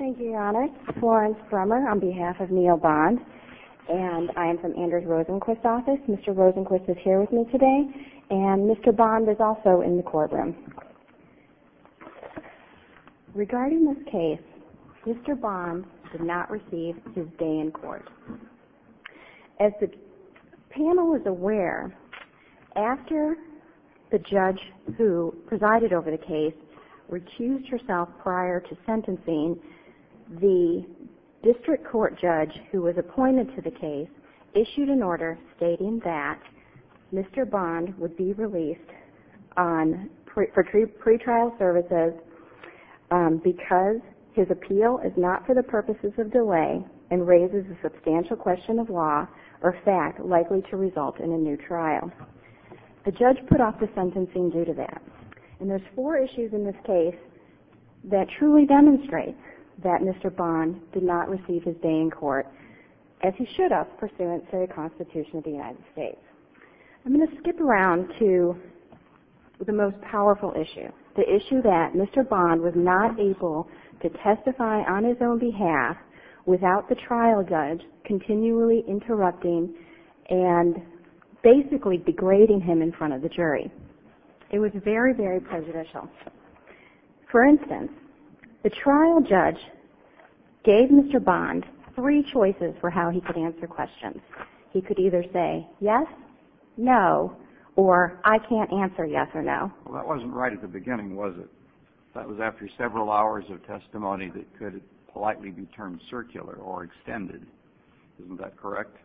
Regarding this case, Mr. Bond did not receive his day in court. As the panel is aware, after the judge who presided over the case recused herself prior to sentencing, the district court judge who was appointed to the case issued an order stating that Mr. Bond would be released for pre-trial services because his appeal is not for the purposes of delay and raises a substantial question of time. The judge put off the sentencing due to that, and there are four issues in this case that truly demonstrate that Mr. Bond did not receive his day in court, as he should have pursuant to the Constitution of the United States. I'm going to skip around to the most powerful issue, the issue that Mr. Bond was not able to testify on his own behalf without the trial judge continually interrupting and basically degrading him in front of the jury. It was very, very prejudicial. For instance, the trial judge gave Mr. Bond three choices for how he could answer questions. He could either say yes, no, or I can't answer yes or no. Well, that wasn't right at the beginning, was it? That was after several hours of testimony that could politely be termed circular or extended. Isn't that correct?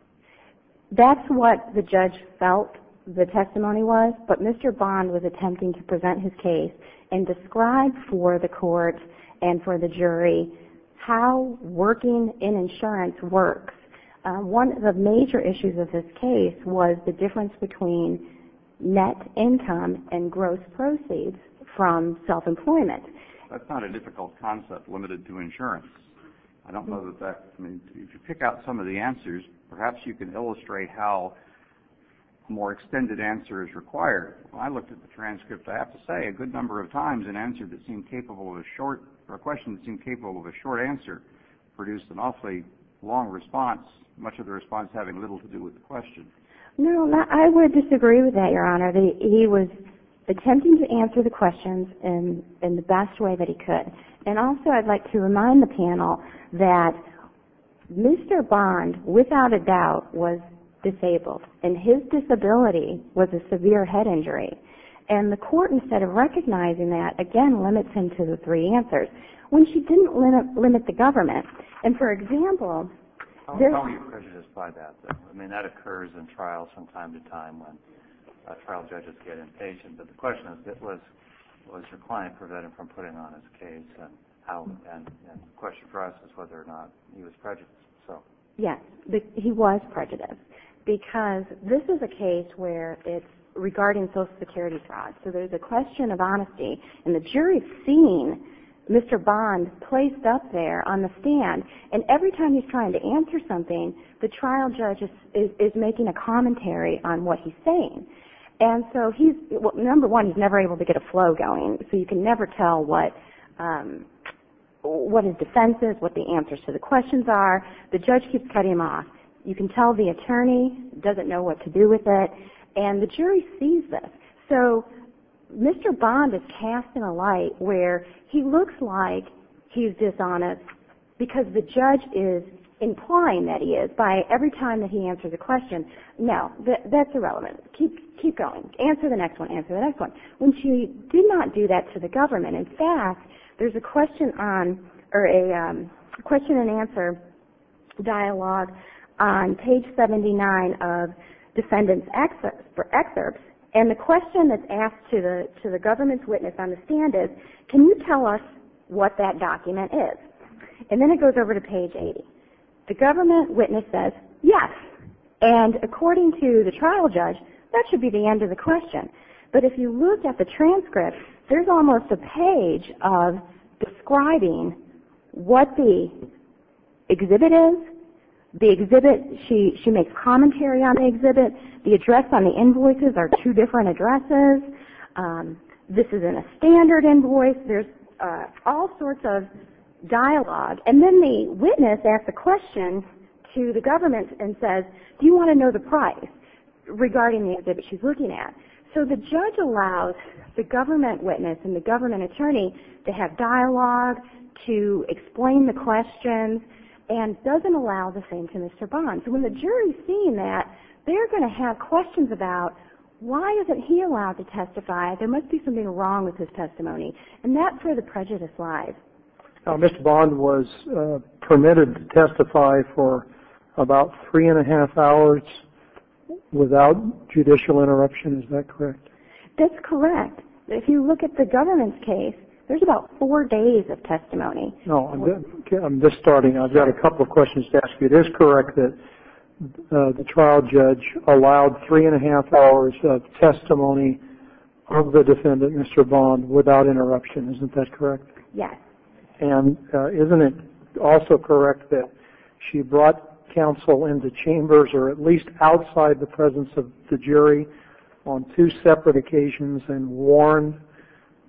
That's what the judge felt the testimony was, but Mr. Bond was attempting to present his case and describe for the court and for the jury how working in insurance works. One of the major issues of this case was the difference between net income and gross proceeds from self-employment. That's not a difficult concept limited to insurance. If you pick out some of the answers, perhaps you can illustrate how a more extended answer is required. When I looked at the transcript, I have to say a good number of times a question that seemed capable of a short answer produced an awfully long response, much of the response having little to do with the question. No, I would disagree with that, Your Honor. He was attempting to answer the questions in the best way that he could. Also, I'd like to remind the panel that Mr. Bond, without a doubt, was disabled, and his disability was a severe head injury. The court, instead of recognizing that, again, limits him to the three answers when she didn't limit the government. For example, there's- Tell me your prejudice by that. I mean, that occurs in trials from time to time when trial judges get impatient. The question is, was your client prevented from putting on his case, and the question for us is whether or not he was prejudiced. Yes, he was prejudiced because this is a case where it's regarding Social Security fraud. There's a question of honesty, and the jury's seeing Mr. Bond placed up there on the stand, and every time he's trying to answer something, the trial judge is making a commentary on what he's saying. Number one, he's never able to get a flow going, so you can never tell what his defense is, what the answers to the questions are. The judge keeps cutting him off. You can tell the attorney doesn't know what to do with it, and the jury sees this. So, Mr. Bond is cast in a light where he looks like he's dishonest because the judge is implying that he is. By every time that he answers a question, no, that's irrelevant. Keep going. Answer the next one. Answer the next one. When she did not do that to the government, in fact, there's a question and answer dialogue on page 79 of defendant's excerpts, and the question that's asked to the government's witness on the stand is, can you tell us what that document is? And then it goes over to page 80. The government witness says, yes, and according to the trial judge, that should be the end of the question. But if you look at the transcript, there's almost a page of describing what the exhibit is. The exhibit, she makes commentary on the exhibit. The address on the invoices are two different addresses. This is in a standard invoice. There's all sorts of dialogue. And then the witness asks a question to the government and says, do you want to know the price regarding the exhibit she's looking at? So the judge allows the government witness and the government attorney to have dialogue, to explain the questions, and doesn't allow the same to Mr. Bond. So when the jury's seeing that, they're going to have questions about, why isn't he allowed to testify? There must be something wrong with his testimony. And that's where the prejudice lies. Mr. Bond was permitted to testify for about three and a half hours without judicial interruption. Is that correct? That's correct. If you look at the government's case, there's about four days of testimony. I'm just starting. I've got a couple of questions to ask you. It is correct that the trial judge allowed three and a half hours of testimony of the defendant, Mr. Bond, without interruption. Isn't that correct? Yes. And isn't it also correct that she brought counsel into chambers, or at least outside the presence of the jury on two separate occasions and warned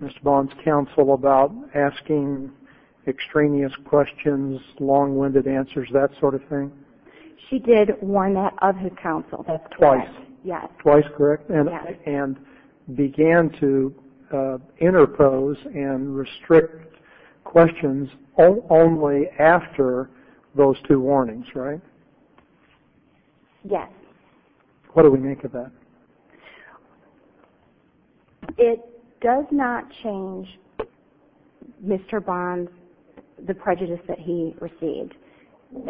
Mr. Bond's counsel about asking extraneous questions, long-winded answers, that sort of thing? She did warn that of his counsel. Twice. Yes. Twice, correct? Yes. And began to interpose and restrict questions only after those two warnings, right? Yes. What do we make of that? It does not change Mr. Bond's prejudice that he received.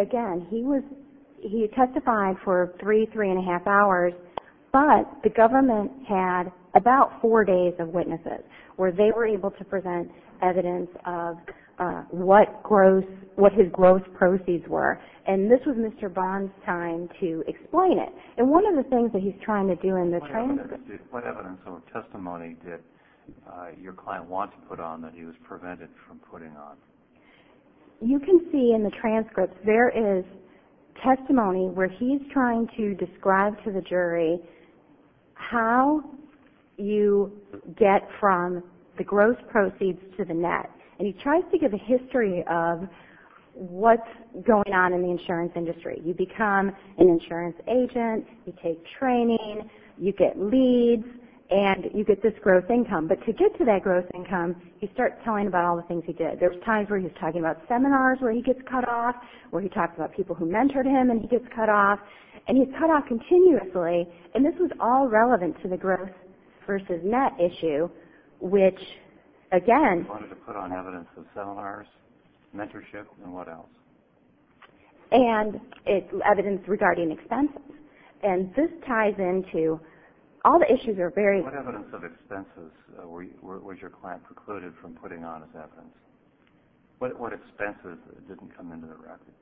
Again, he testified for three, three and a half hours, but the government had about four days of witnesses where they were able to present evidence of what his gross proceeds were. And this was Mr. Bond's time to explain it. And one of the things that he's trying to do in the transcripts of the testimony that your client wants to put on that he was prevented from putting on. You can see in the transcripts there is testimony where he's trying to describe to the jury how you get from the gross proceeds to the net. And he tries to give a history of what's going on in the insurance industry. You become an insurance agent, you take training, you get leads, and you get this gross income. But to get to that gross income, he starts telling about all the things he did. There's times where he's talking about seminars where he gets cut off, where he talks about people who mentored him and he gets cut off. And he's cut off continuously. And this was all relevant to the gross versus net issue, which, again- He wanted to put on evidence of seminars, mentorship, and what else? And evidence regarding expenses. And this ties into all the issues are very- What evidence of expenses was your client precluded from putting on as evidence? What expenses didn't come into the record?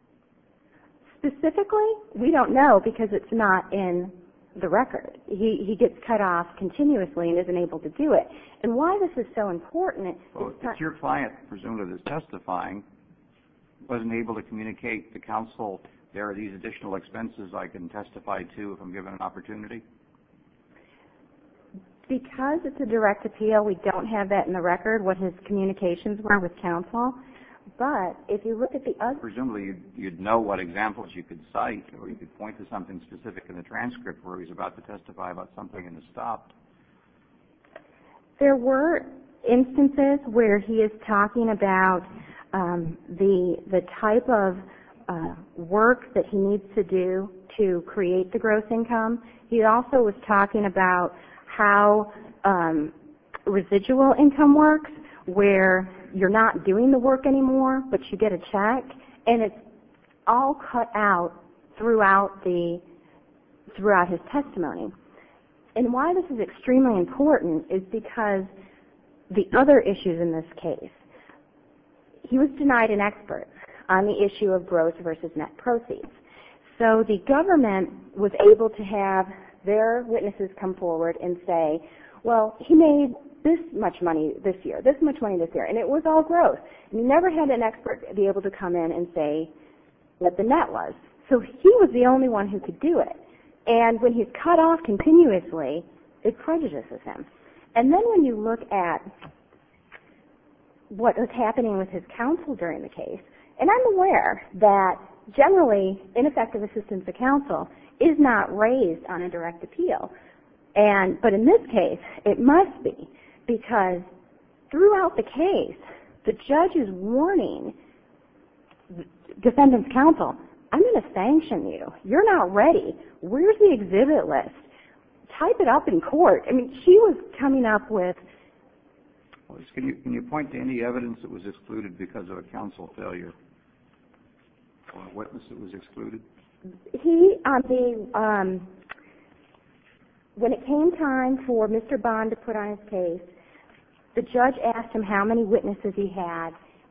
Specifically, we don't know because it's not in the record. He gets cut off continuously and isn't able to do it. And why this is so important- If your client, presumably, that's testifying, wasn't able to communicate to counsel, there are these additional expenses I can testify to if I'm given an opportunity? Because it's a direct appeal, we don't have that in the record, what his communications were with counsel. But if you look at the other- Presumably, you'd know what examples you could cite or you could point to something specific in the transcript where he's about to testify about something and it's stopped. There were instances where he is talking about the type of work that he needs to do to create the gross income. He also was talking about how residual income works where you're not doing the work anymore, but you get a check. And it's all cut out throughout his testimony. And why this is extremely important is because the other issues in this case. He was denied an expert on the issue of gross versus net proceeds. So the government was able to have their witnesses come forward and say, well, he made this much money this year, this much money this year, and it was all gross. You never had an expert be able to come in and say what the net was. So he was the only one who could do it. And when he's cut off continuously, it prejudices him. And then when you look at what was happening with his counsel during the case, and I'm aware that generally ineffective assistance to counsel is not raised on a direct appeal. But in this case, it must be because throughout the case, the judge is warning defendant's counsel, I'm going to sanction you. You're not ready. Where's the exhibit list? Type it up in court. I mean, he was coming up with. Can you point to any evidence that was excluded because of a counsel failure? Or a witness that was excluded? He, the, when it came time for Mr. Bond to put on his case, the judge asked him how many witnesses he had,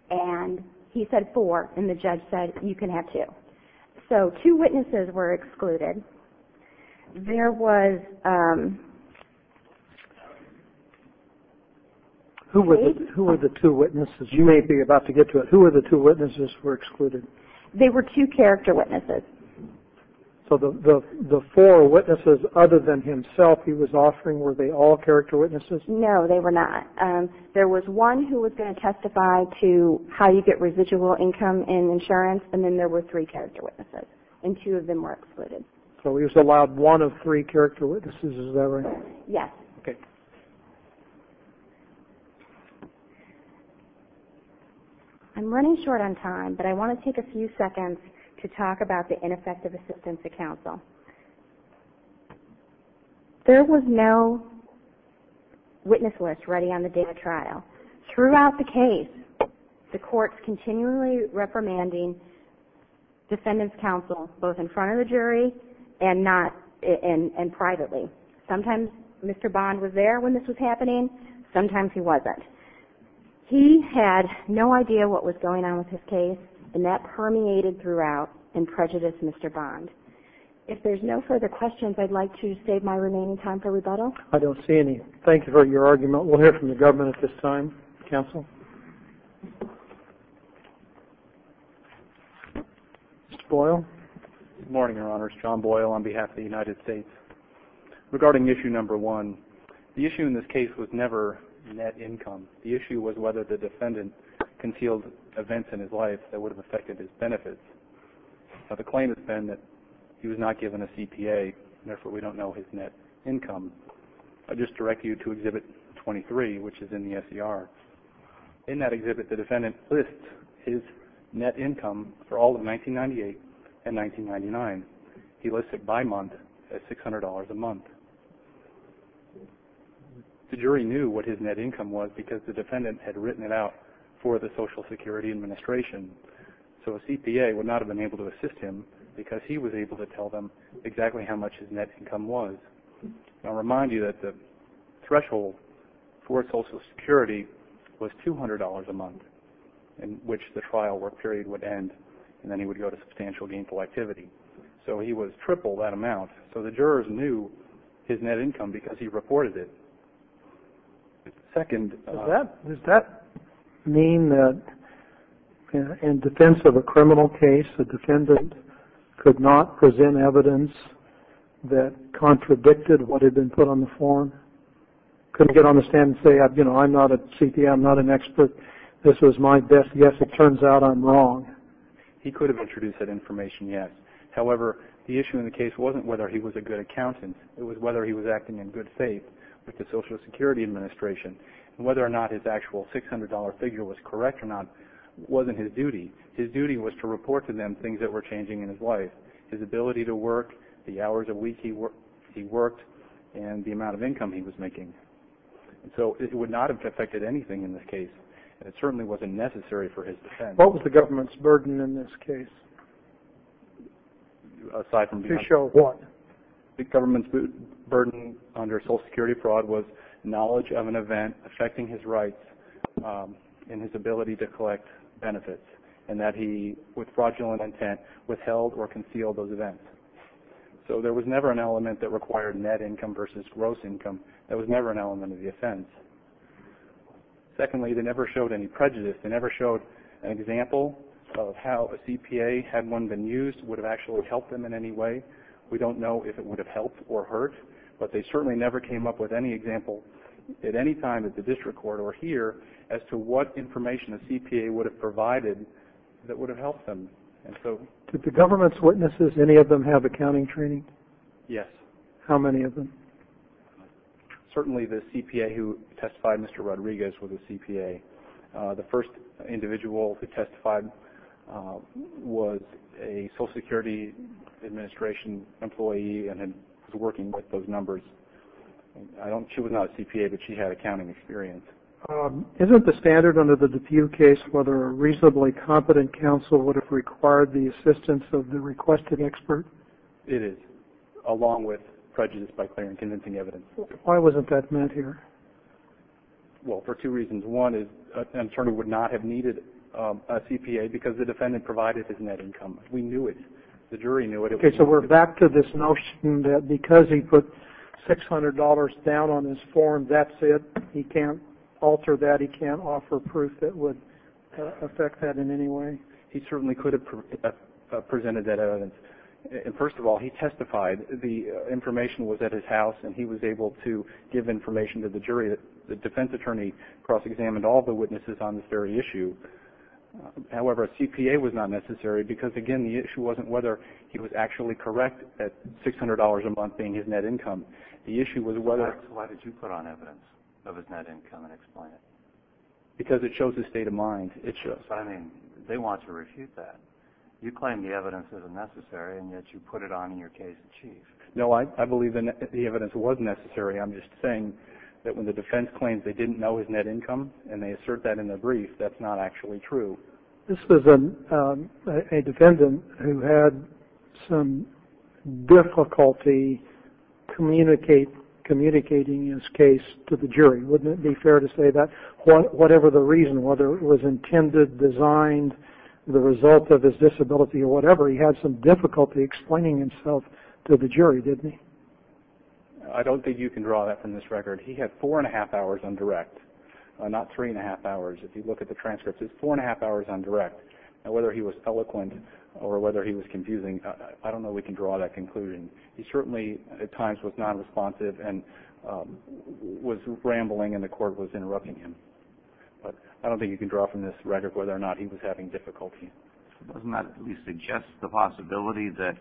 and he said four. And the judge said, you can have two. Okay. So two witnesses were excluded. There was. Who were the two witnesses? You may be about to get to it. Who were the two witnesses were excluded? They were two character witnesses. So the four witnesses other than himself he was offering, were they all character witnesses? No, they were not. There was one who was going to testify to how you get residual income in insurance, and then there were three character witnesses, and two of them were excluded. So he was allowed one of three character witnesses, is that right? Yes. Okay. I'm running short on time, but I want to take a few seconds to talk about the ineffective assistance of counsel. There was no witness list ready on the day of trial. Throughout the case, the court's continually reprimanding defendant's counsel, both in front of the jury and privately. Sometimes Mr. Bond was there when this was happening. Sometimes he wasn't. He had no idea what was going on with his case, and that permeated throughout and prejudiced Mr. Bond. If there's no further questions, I'd like to save my remaining time for rebuttal. I don't see any. Thank you for your argument. We'll hear from the government at this time. Counsel? Mr. Boyle? Good morning, Your Honors. John Boyle on behalf of the United States. Regarding issue number one, the issue in this case was never net income. The issue was whether the defendant concealed events in his life that would have affected his benefits. Now, the claim has been that he was not given a CPA, and therefore we don't know his net income. I'll just direct you to Exhibit 23, which is in the SCR. In that exhibit, the defendant lists his net income for all of 1998 and 1999. He lists it by month as $600 a month. The jury knew what his net income was because the defendant had written it out for the Social Security Administration, so a CPA would not have been able to assist him because he was able to tell them exactly how much his net income was. I'll remind you that the threshold for Social Security was $200 a month, in which the trial work period would end, and then he would go to substantial gainful activity. So he was triple that amount, so the jurors knew his net income because he reported it. Does that mean that in defense of a criminal case, the defendant could not present evidence that contradicted what had been put on the form? Could he get on the stand and say, you know, I'm not a CPA, I'm not an expert, this was my best guess. It turns out I'm wrong. He could have introduced that information, yes. However, the issue in the case wasn't whether he was a good accountant. It was whether he was acting in good faith with the Social Security Administration, and whether or not his actual $600 figure was correct or not wasn't his duty. His duty was to report to them things that were changing in his life, his ability to work, the hours a week he worked, and the amount of income he was making. So it would not have affected anything in this case, and it certainly wasn't necessary for his defense. What was the government's burden in this case? To show what? The government's burden under Social Security fraud was knowledge of an event affecting his rights and his ability to collect benefits, and that he, with fraudulent intent, withheld or concealed those events. So there was never an element that required net income versus gross income. That was never an element of the offense. Secondly, they never showed any prejudice. They never showed an example of how a CPA, had one been used, would have actually helped them in any way. We don't know if it would have helped or hurt, but they certainly never came up with any example at any time at the district court or here as to what information a CPA would have provided that would have helped them. Did the government's witnesses, any of them, have accounting training? Yes. How many of them? Certainly the CPA who testified, Mr. Rodriguez, was a CPA. The first individual who testified was a Social Security Administration employee and was working with those numbers. She was not a CPA, but she had accounting experience. Isn't the standard under the DePue case whether a reasonably competent counsel would have required the assistance of the requested expert? It is, along with prejudice by clear and convincing evidence. Why wasn't that met here? Well, for two reasons. One, an attorney would not have needed a CPA because the defendant provided his net income. We knew it. The jury knew it. Okay, so we're back to this notion that because he put $600 down on his form, that's it? He can't alter that? He can't offer proof that would affect that in any way? He certainly could have presented that evidence. First of all, he testified. The information was at his house, and he was able to give information to the jury. The defense attorney cross-examined all the witnesses on this very issue. However, a CPA was not necessary because, again, the issue wasn't whether he was actually correct at $600 a month being his net income. The issue was whether... Why did you put on evidence of his net income and explain it? Because it shows his state of mind. It shows. I mean, they want to refute that. You claim the evidence isn't necessary, and yet you put it on in your case in chief. No, I believe the evidence was necessary. I'm just saying that when the defense claims they didn't know his net income and they assert that in the brief, that's not actually true. This was a defendant who had some difficulty communicating his case to the jury. Wouldn't it be fair to say that? Whatever the reason, whether it was intended, designed, the result of his disability or whatever, he had some difficulty explaining himself to the jury, didn't he? I don't think you can draw that from this record. He had four and a half hours on direct, not three and a half hours. If you look at the transcripts, it's four and a half hours on direct. Whether he was eloquent or whether he was confusing, I don't know we can draw that conclusion. He certainly at times was nonresponsive and was rambling and the court was interrupting him. But I don't think you can draw from this record whether or not he was having difficulty. Doesn't that at least suggest the possibility that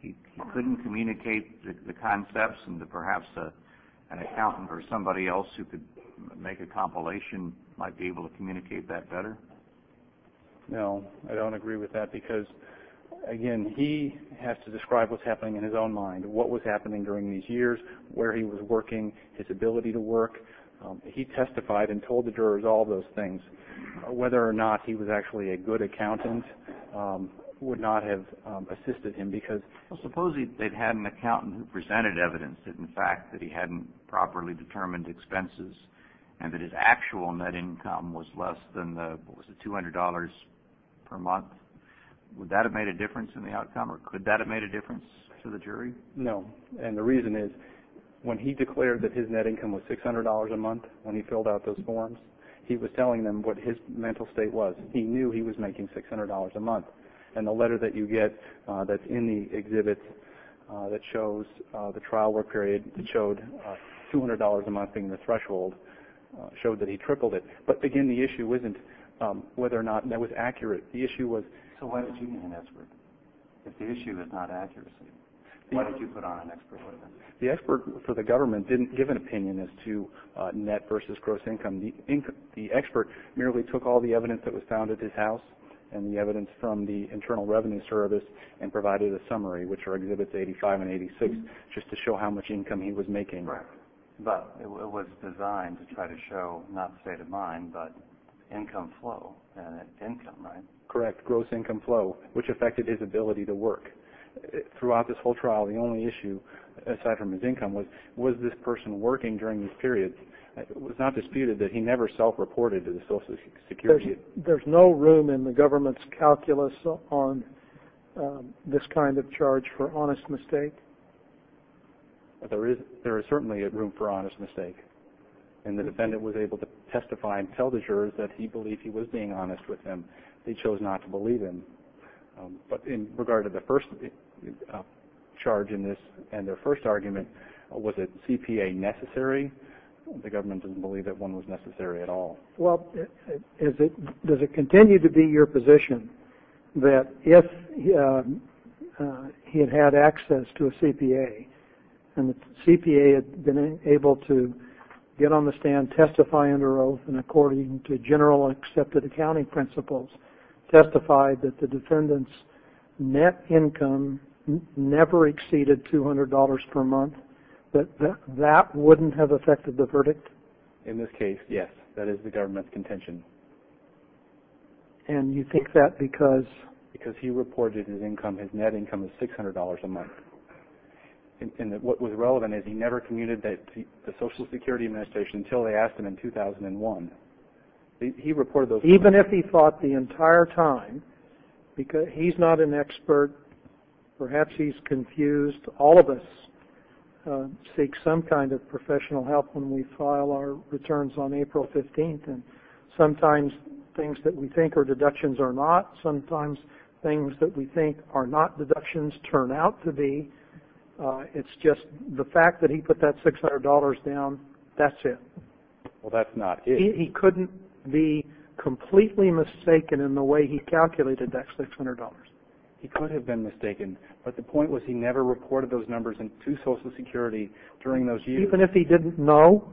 he couldn't communicate the concepts and that perhaps an accountant or somebody else who could make a compilation might be able to communicate that better? No, I don't agree with that because, again, he has to describe what's happening in his own mind, what was happening during these years, where he was working, his ability to work. He testified and told the jurors all those things. Whether or not he was actually a good accountant would not have assisted him because... Suppose they'd had an accountant who presented evidence that, in fact, that he hadn't properly determined expenses and that his actual net income was less than what was it, $200 per month. Would that have made a difference in the outcome or could that have made a difference to the jury? No, and the reason is when he declared that his net income was $600 a month when he filled out those forms, he was telling them what his mental state was. He knew he was making $600 a month. And the letter that you get that's in the exhibit that shows the trial work period that showed $200 a month being the threshold showed that he tripled it. But, again, the issue isn't whether or not that was accurate. So why did you need an expert if the issue is not accuracy? Why did you put on an expert? The expert for the government didn't give an opinion as to net versus gross income. The expert merely took all the evidence that was found at his house and the evidence from the Internal Revenue Service and provided a summary, which are Exhibits 85 and 86, just to show how much income he was making. But it was designed to try to show not the state of mind but income flow and income, right? Correct, gross income flow, which affected his ability to work. Throughout this whole trial, the only issue, aside from his income, was was this person working during this period. It was not disputed that he never self-reported to the Social Security. There's no room in the government's calculus on this kind of charge for honest mistake? There is certainly room for honest mistake. And the defendant was able to testify and tell the jurors that he believed he was being honest with them. They chose not to believe him. But in regard to the first charge in this and their first argument, was a CPA necessary? The government didn't believe that one was necessary at all. Well, does it continue to be your position that if he had had access to a CPA and the CPA had been able to get on the stand, testify under oath, and according to general accepted accounting principles, testified that the defendant's net income never exceeded $200 per month, that that wouldn't have affected the verdict? In this case, yes. That is the government's contention. And you think that because? Because he reported his net income of $600 a month. And what was relevant is he never communed to the Social Security Administration until they asked him in 2001. Even if he thought the entire time, because he's not an expert, perhaps he's confused, all of us seek some kind of professional help when we file our returns on April 15th. Sometimes things that we think are deductions are not. Sometimes things that we think are not deductions turn out to be. It's just the fact that he put that $600 down, that's it. Well, that's not it. He couldn't be completely mistaken in the way he calculated that $600. He could have been mistaken, but the point was he never reported those numbers to Social Security during those years. Even if he didn't know?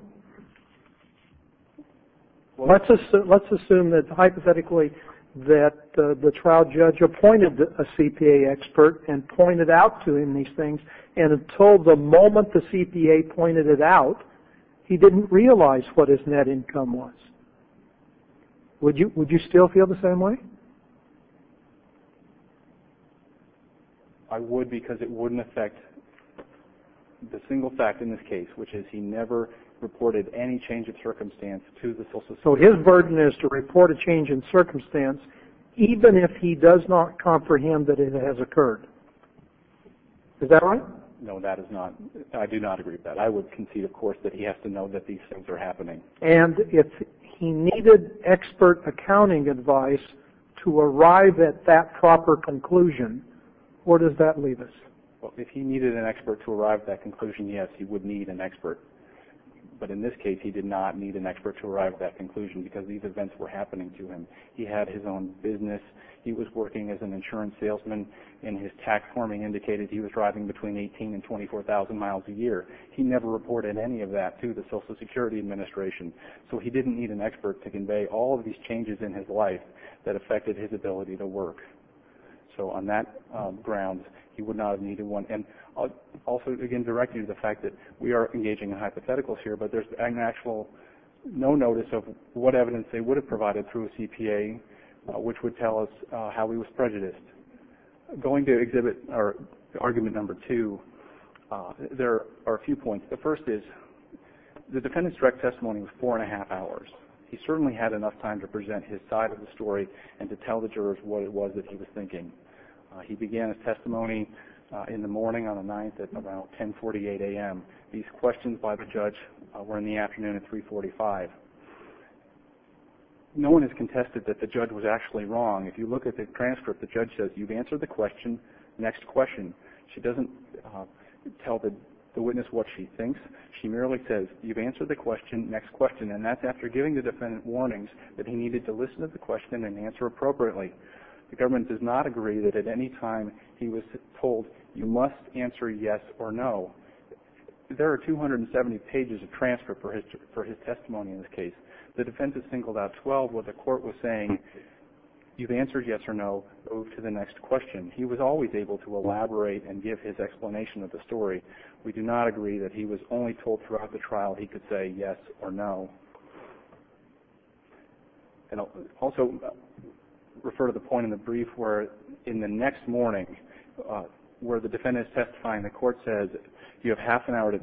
Let's assume that hypothetically that the trial judge appointed a CPA expert and pointed out to him these things, and until the moment the CPA pointed it out, he didn't realize what his net income was. Would you still feel the same way? I would because it wouldn't affect the single fact in this case, which is he never reported any change of circumstance to the Social Security. So his burden is to report a change in circumstance, even if he does not comprehend that it has occurred. Is that right? No, that is not. I do not agree with that. I would concede, of course, that he has to know that these things are happening. And if he needed expert accounting advice to arrive at that proper conclusion, where does that leave us? If he needed an expert to arrive at that conclusion, yes, he would need an expert. But in this case, he did not need an expert to arrive at that conclusion because these events were happening to him. He had his own business. He was working as an insurance salesman, and his tax forming indicated he was driving between 18,000 and 24,000 miles a year. He never reported any of that to the Social Security Administration. So he didn't need an expert to convey all of these changes in his life that affected his ability to work. So on that ground, he would not have needed one. And I'll also again direct you to the fact that we are engaging in hypotheticals here, but there's an actual no notice of what evidence they would have provided through a CPA, which would tell us how he was prejudiced. Going to exhibit argument number two, there are a few points. The first is the defendant's direct testimony was 4 1⁄2 hours. He certainly had enough time to present his side of the story and to tell the jurors what it was that he was thinking. He began his testimony in the morning on the 9th at around 1048 a.m. These questions by the judge were in the afternoon at 345. No one has contested that the judge was actually wrong. If you look at the transcript, the judge says, you've answered the question, next question. She doesn't tell the witness what she thinks. She merely says, you've answered the question, next question. And that's after giving the defendant warnings that he needed to listen to the question and answer appropriately. The government does not agree that at any time he was told you must answer yes or no. There are 270 pages of transcript for his testimony in this case. The defense has singled out 12 where the court was saying, you've answered yes or no, move to the next question. He was always able to elaborate and give his explanation of the story. We do not agree that he was only told throughout the trial he could say yes or no. And I'll also refer to the point in the brief where in the next morning, where the defendant is testifying, the court says, you have half an hour to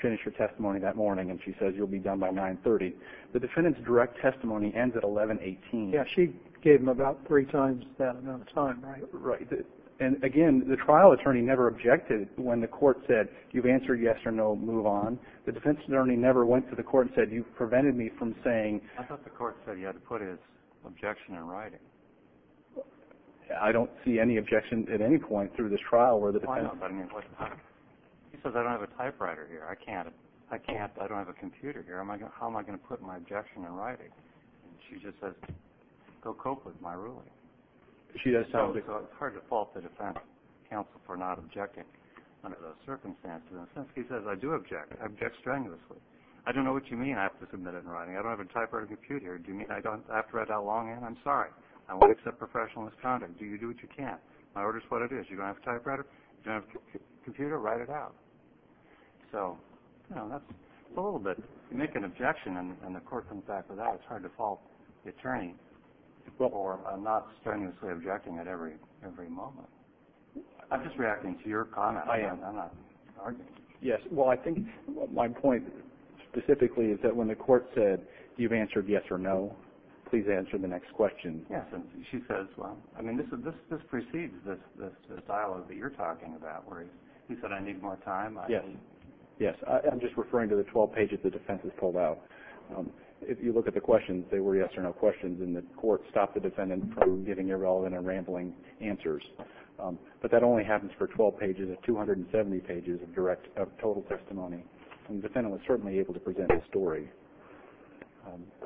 finish your testimony that morning, and she says, you'll be done by 930. The defendant's direct testimony ends at 1118. Yeah, she gave him about three times that amount of time, right? Right. And, again, the trial attorney never objected when the court said, you've answered yes or no, move on. The defense attorney never went to the court and said, you've prevented me from saying... I thought the court said he had to put his objection in writing. I don't see any objection at any point through this trial where the defendant... Why not? He says, I don't have a typewriter here. I can't. I can't. I don't have a computer here. How am I going to put my objection in writing? She just says, go cope with my ruling. It's hard to fault the defense counsel for not objecting under those circumstances. He says, I do object. I object strenuously. I don't know what you mean I have to submit it in writing. I don't have a typewriter or computer. Do you mean I have to write it out longhand? I'm sorry. I won't accept professional misconduct. Do you do what you can? My order is what it is. You don't have a typewriter? You don't have a computer? Write it out. It's a little bit... You make an objection and the court comes back with that. It's hard to fault the attorney for not strenuously objecting at every moment. I'm just reacting to your comment. I am. I'm not arguing. Yes. Well, I think my point specifically is that when the court said, you've answered yes or no. Please answer the next question. Yes. And she says, well... I mean, this precedes this dialogue that you're talking about. Don't worry. You said I need more time? Yes. Yes. I'm just referring to the 12 pages the defense has pulled out. If you look at the questions, they were yes or no questions, and the court stopped the defendant from giving irrelevant and rambling answers. But that only happens for 12 pages. It's 270 pages of total testimony. And the defendant was certainly able to present the story.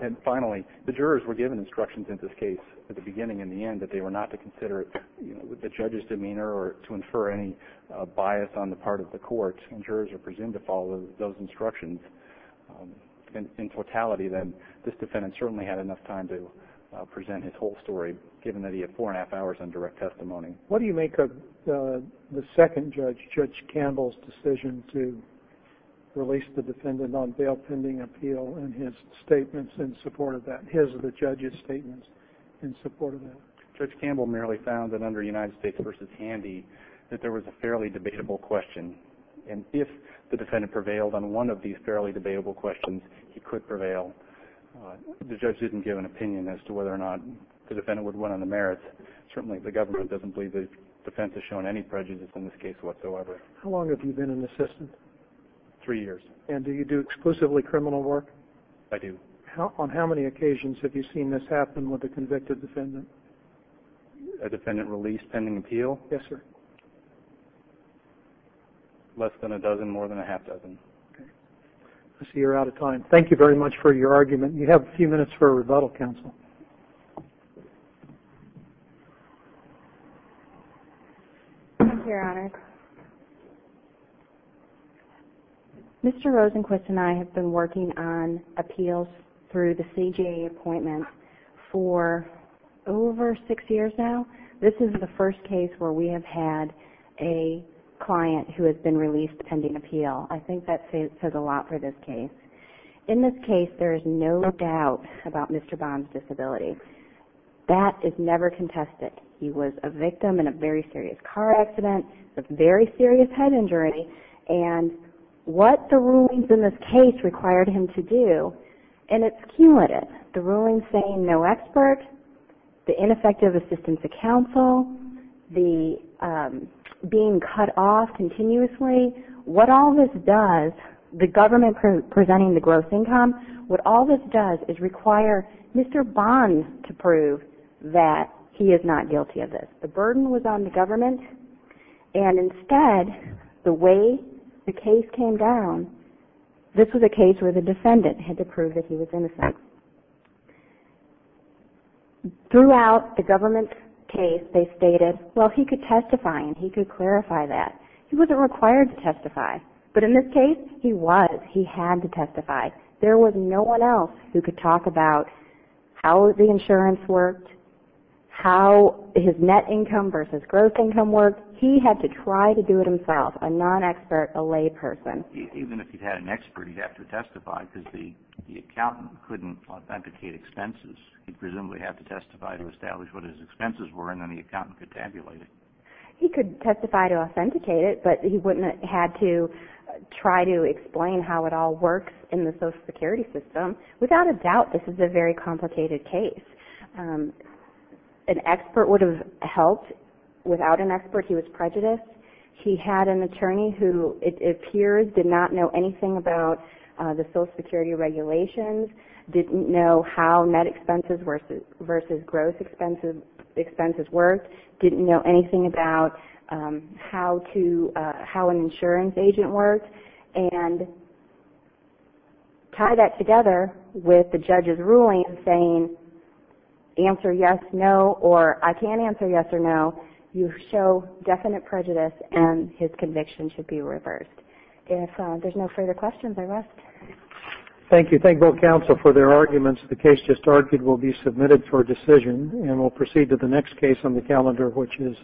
And finally, the jurors were given instructions in this case at the beginning and the end that they were not to consider the judge's demeanor or to infer any bias on the part of the court. And jurors are presumed to follow those instructions. In totality, then, this defendant certainly had enough time to present his whole story, given that he had four and a half hours on direct testimony. What do you make of the second judge, Judge Campbell's, decision to release the defendant on bail pending appeal and his statements in support of that, his or the judge's statements in support of that? Judge Campbell merely found that under United States v. Handy that there was a fairly debatable question. And if the defendant prevailed on one of these fairly debatable questions, he could prevail. The judge didn't give an opinion as to whether or not the defendant would run on the merits. Certainly the government doesn't believe the defense has shown any prejudice in this case whatsoever. How long have you been an assistant? Three years. And do you do exclusively criminal work? I do. On how many occasions have you seen this happen with a convicted defendant? A defendant released pending appeal? Yes, sir. Less than a dozen, more than a half dozen. Okay. I see you're out of time. Thank you very much for your argument. You have a few minutes for a rebuttal, counsel. Thank you, Your Honor. Mr. Rosenquist and I have been working on appeals through the CJA appointments for over six years now. This is the first case where we have had a client who has been released pending appeal. I think that says a lot for this case. In this case, there is no doubt about Mr. Bond's disability. That is never contested. He was a victim in a very serious car accident. A very serious head injury. And what the rulings in this case required him to do, and it's key with it, the rulings saying no expert, the ineffective assistance of counsel, the being cut off continuously, what all this does, the government presenting the gross income, what all this does is require Mr. Bond to prove that he is not guilty of this. The burden was on the government. And instead, the way the case came down, this was a case where the defendant had to prove that he was innocent. Throughout the government's case, they stated, well, he could testify and he could clarify that. He wasn't required to testify. But in this case, he was. He had to testify. There was no one else who could talk about how the insurance worked, how his net income versus gross income worked. He had to try to do it himself, a non-expert, a layperson. Even if he had an expert, he'd have to testify because the accountant couldn't authenticate expenses. He'd presumably have to testify to establish what his expenses were and then the accountant could tabulate it. He could testify to authenticate it, but he wouldn't have had to try to explain how it all works in the social security system. Without a doubt, this is a very complicated case. An expert would have helped. Without an expert, he was prejudiced. He had an attorney who, it appears, did not know anything about the social security regulations, didn't know how net expenses versus gross expenses worked, didn't know anything about how an insurance agent worked, and tie that together with the judge's ruling saying answer yes, no, or I can't answer yes or no, you show definite prejudice and his conviction should be reversed. If there's no further questions, I'll ask. Thank you. Thank both counsel for their arguments. The case just argued will be submitted for decision, and we'll proceed to the next case on the calendar, which is.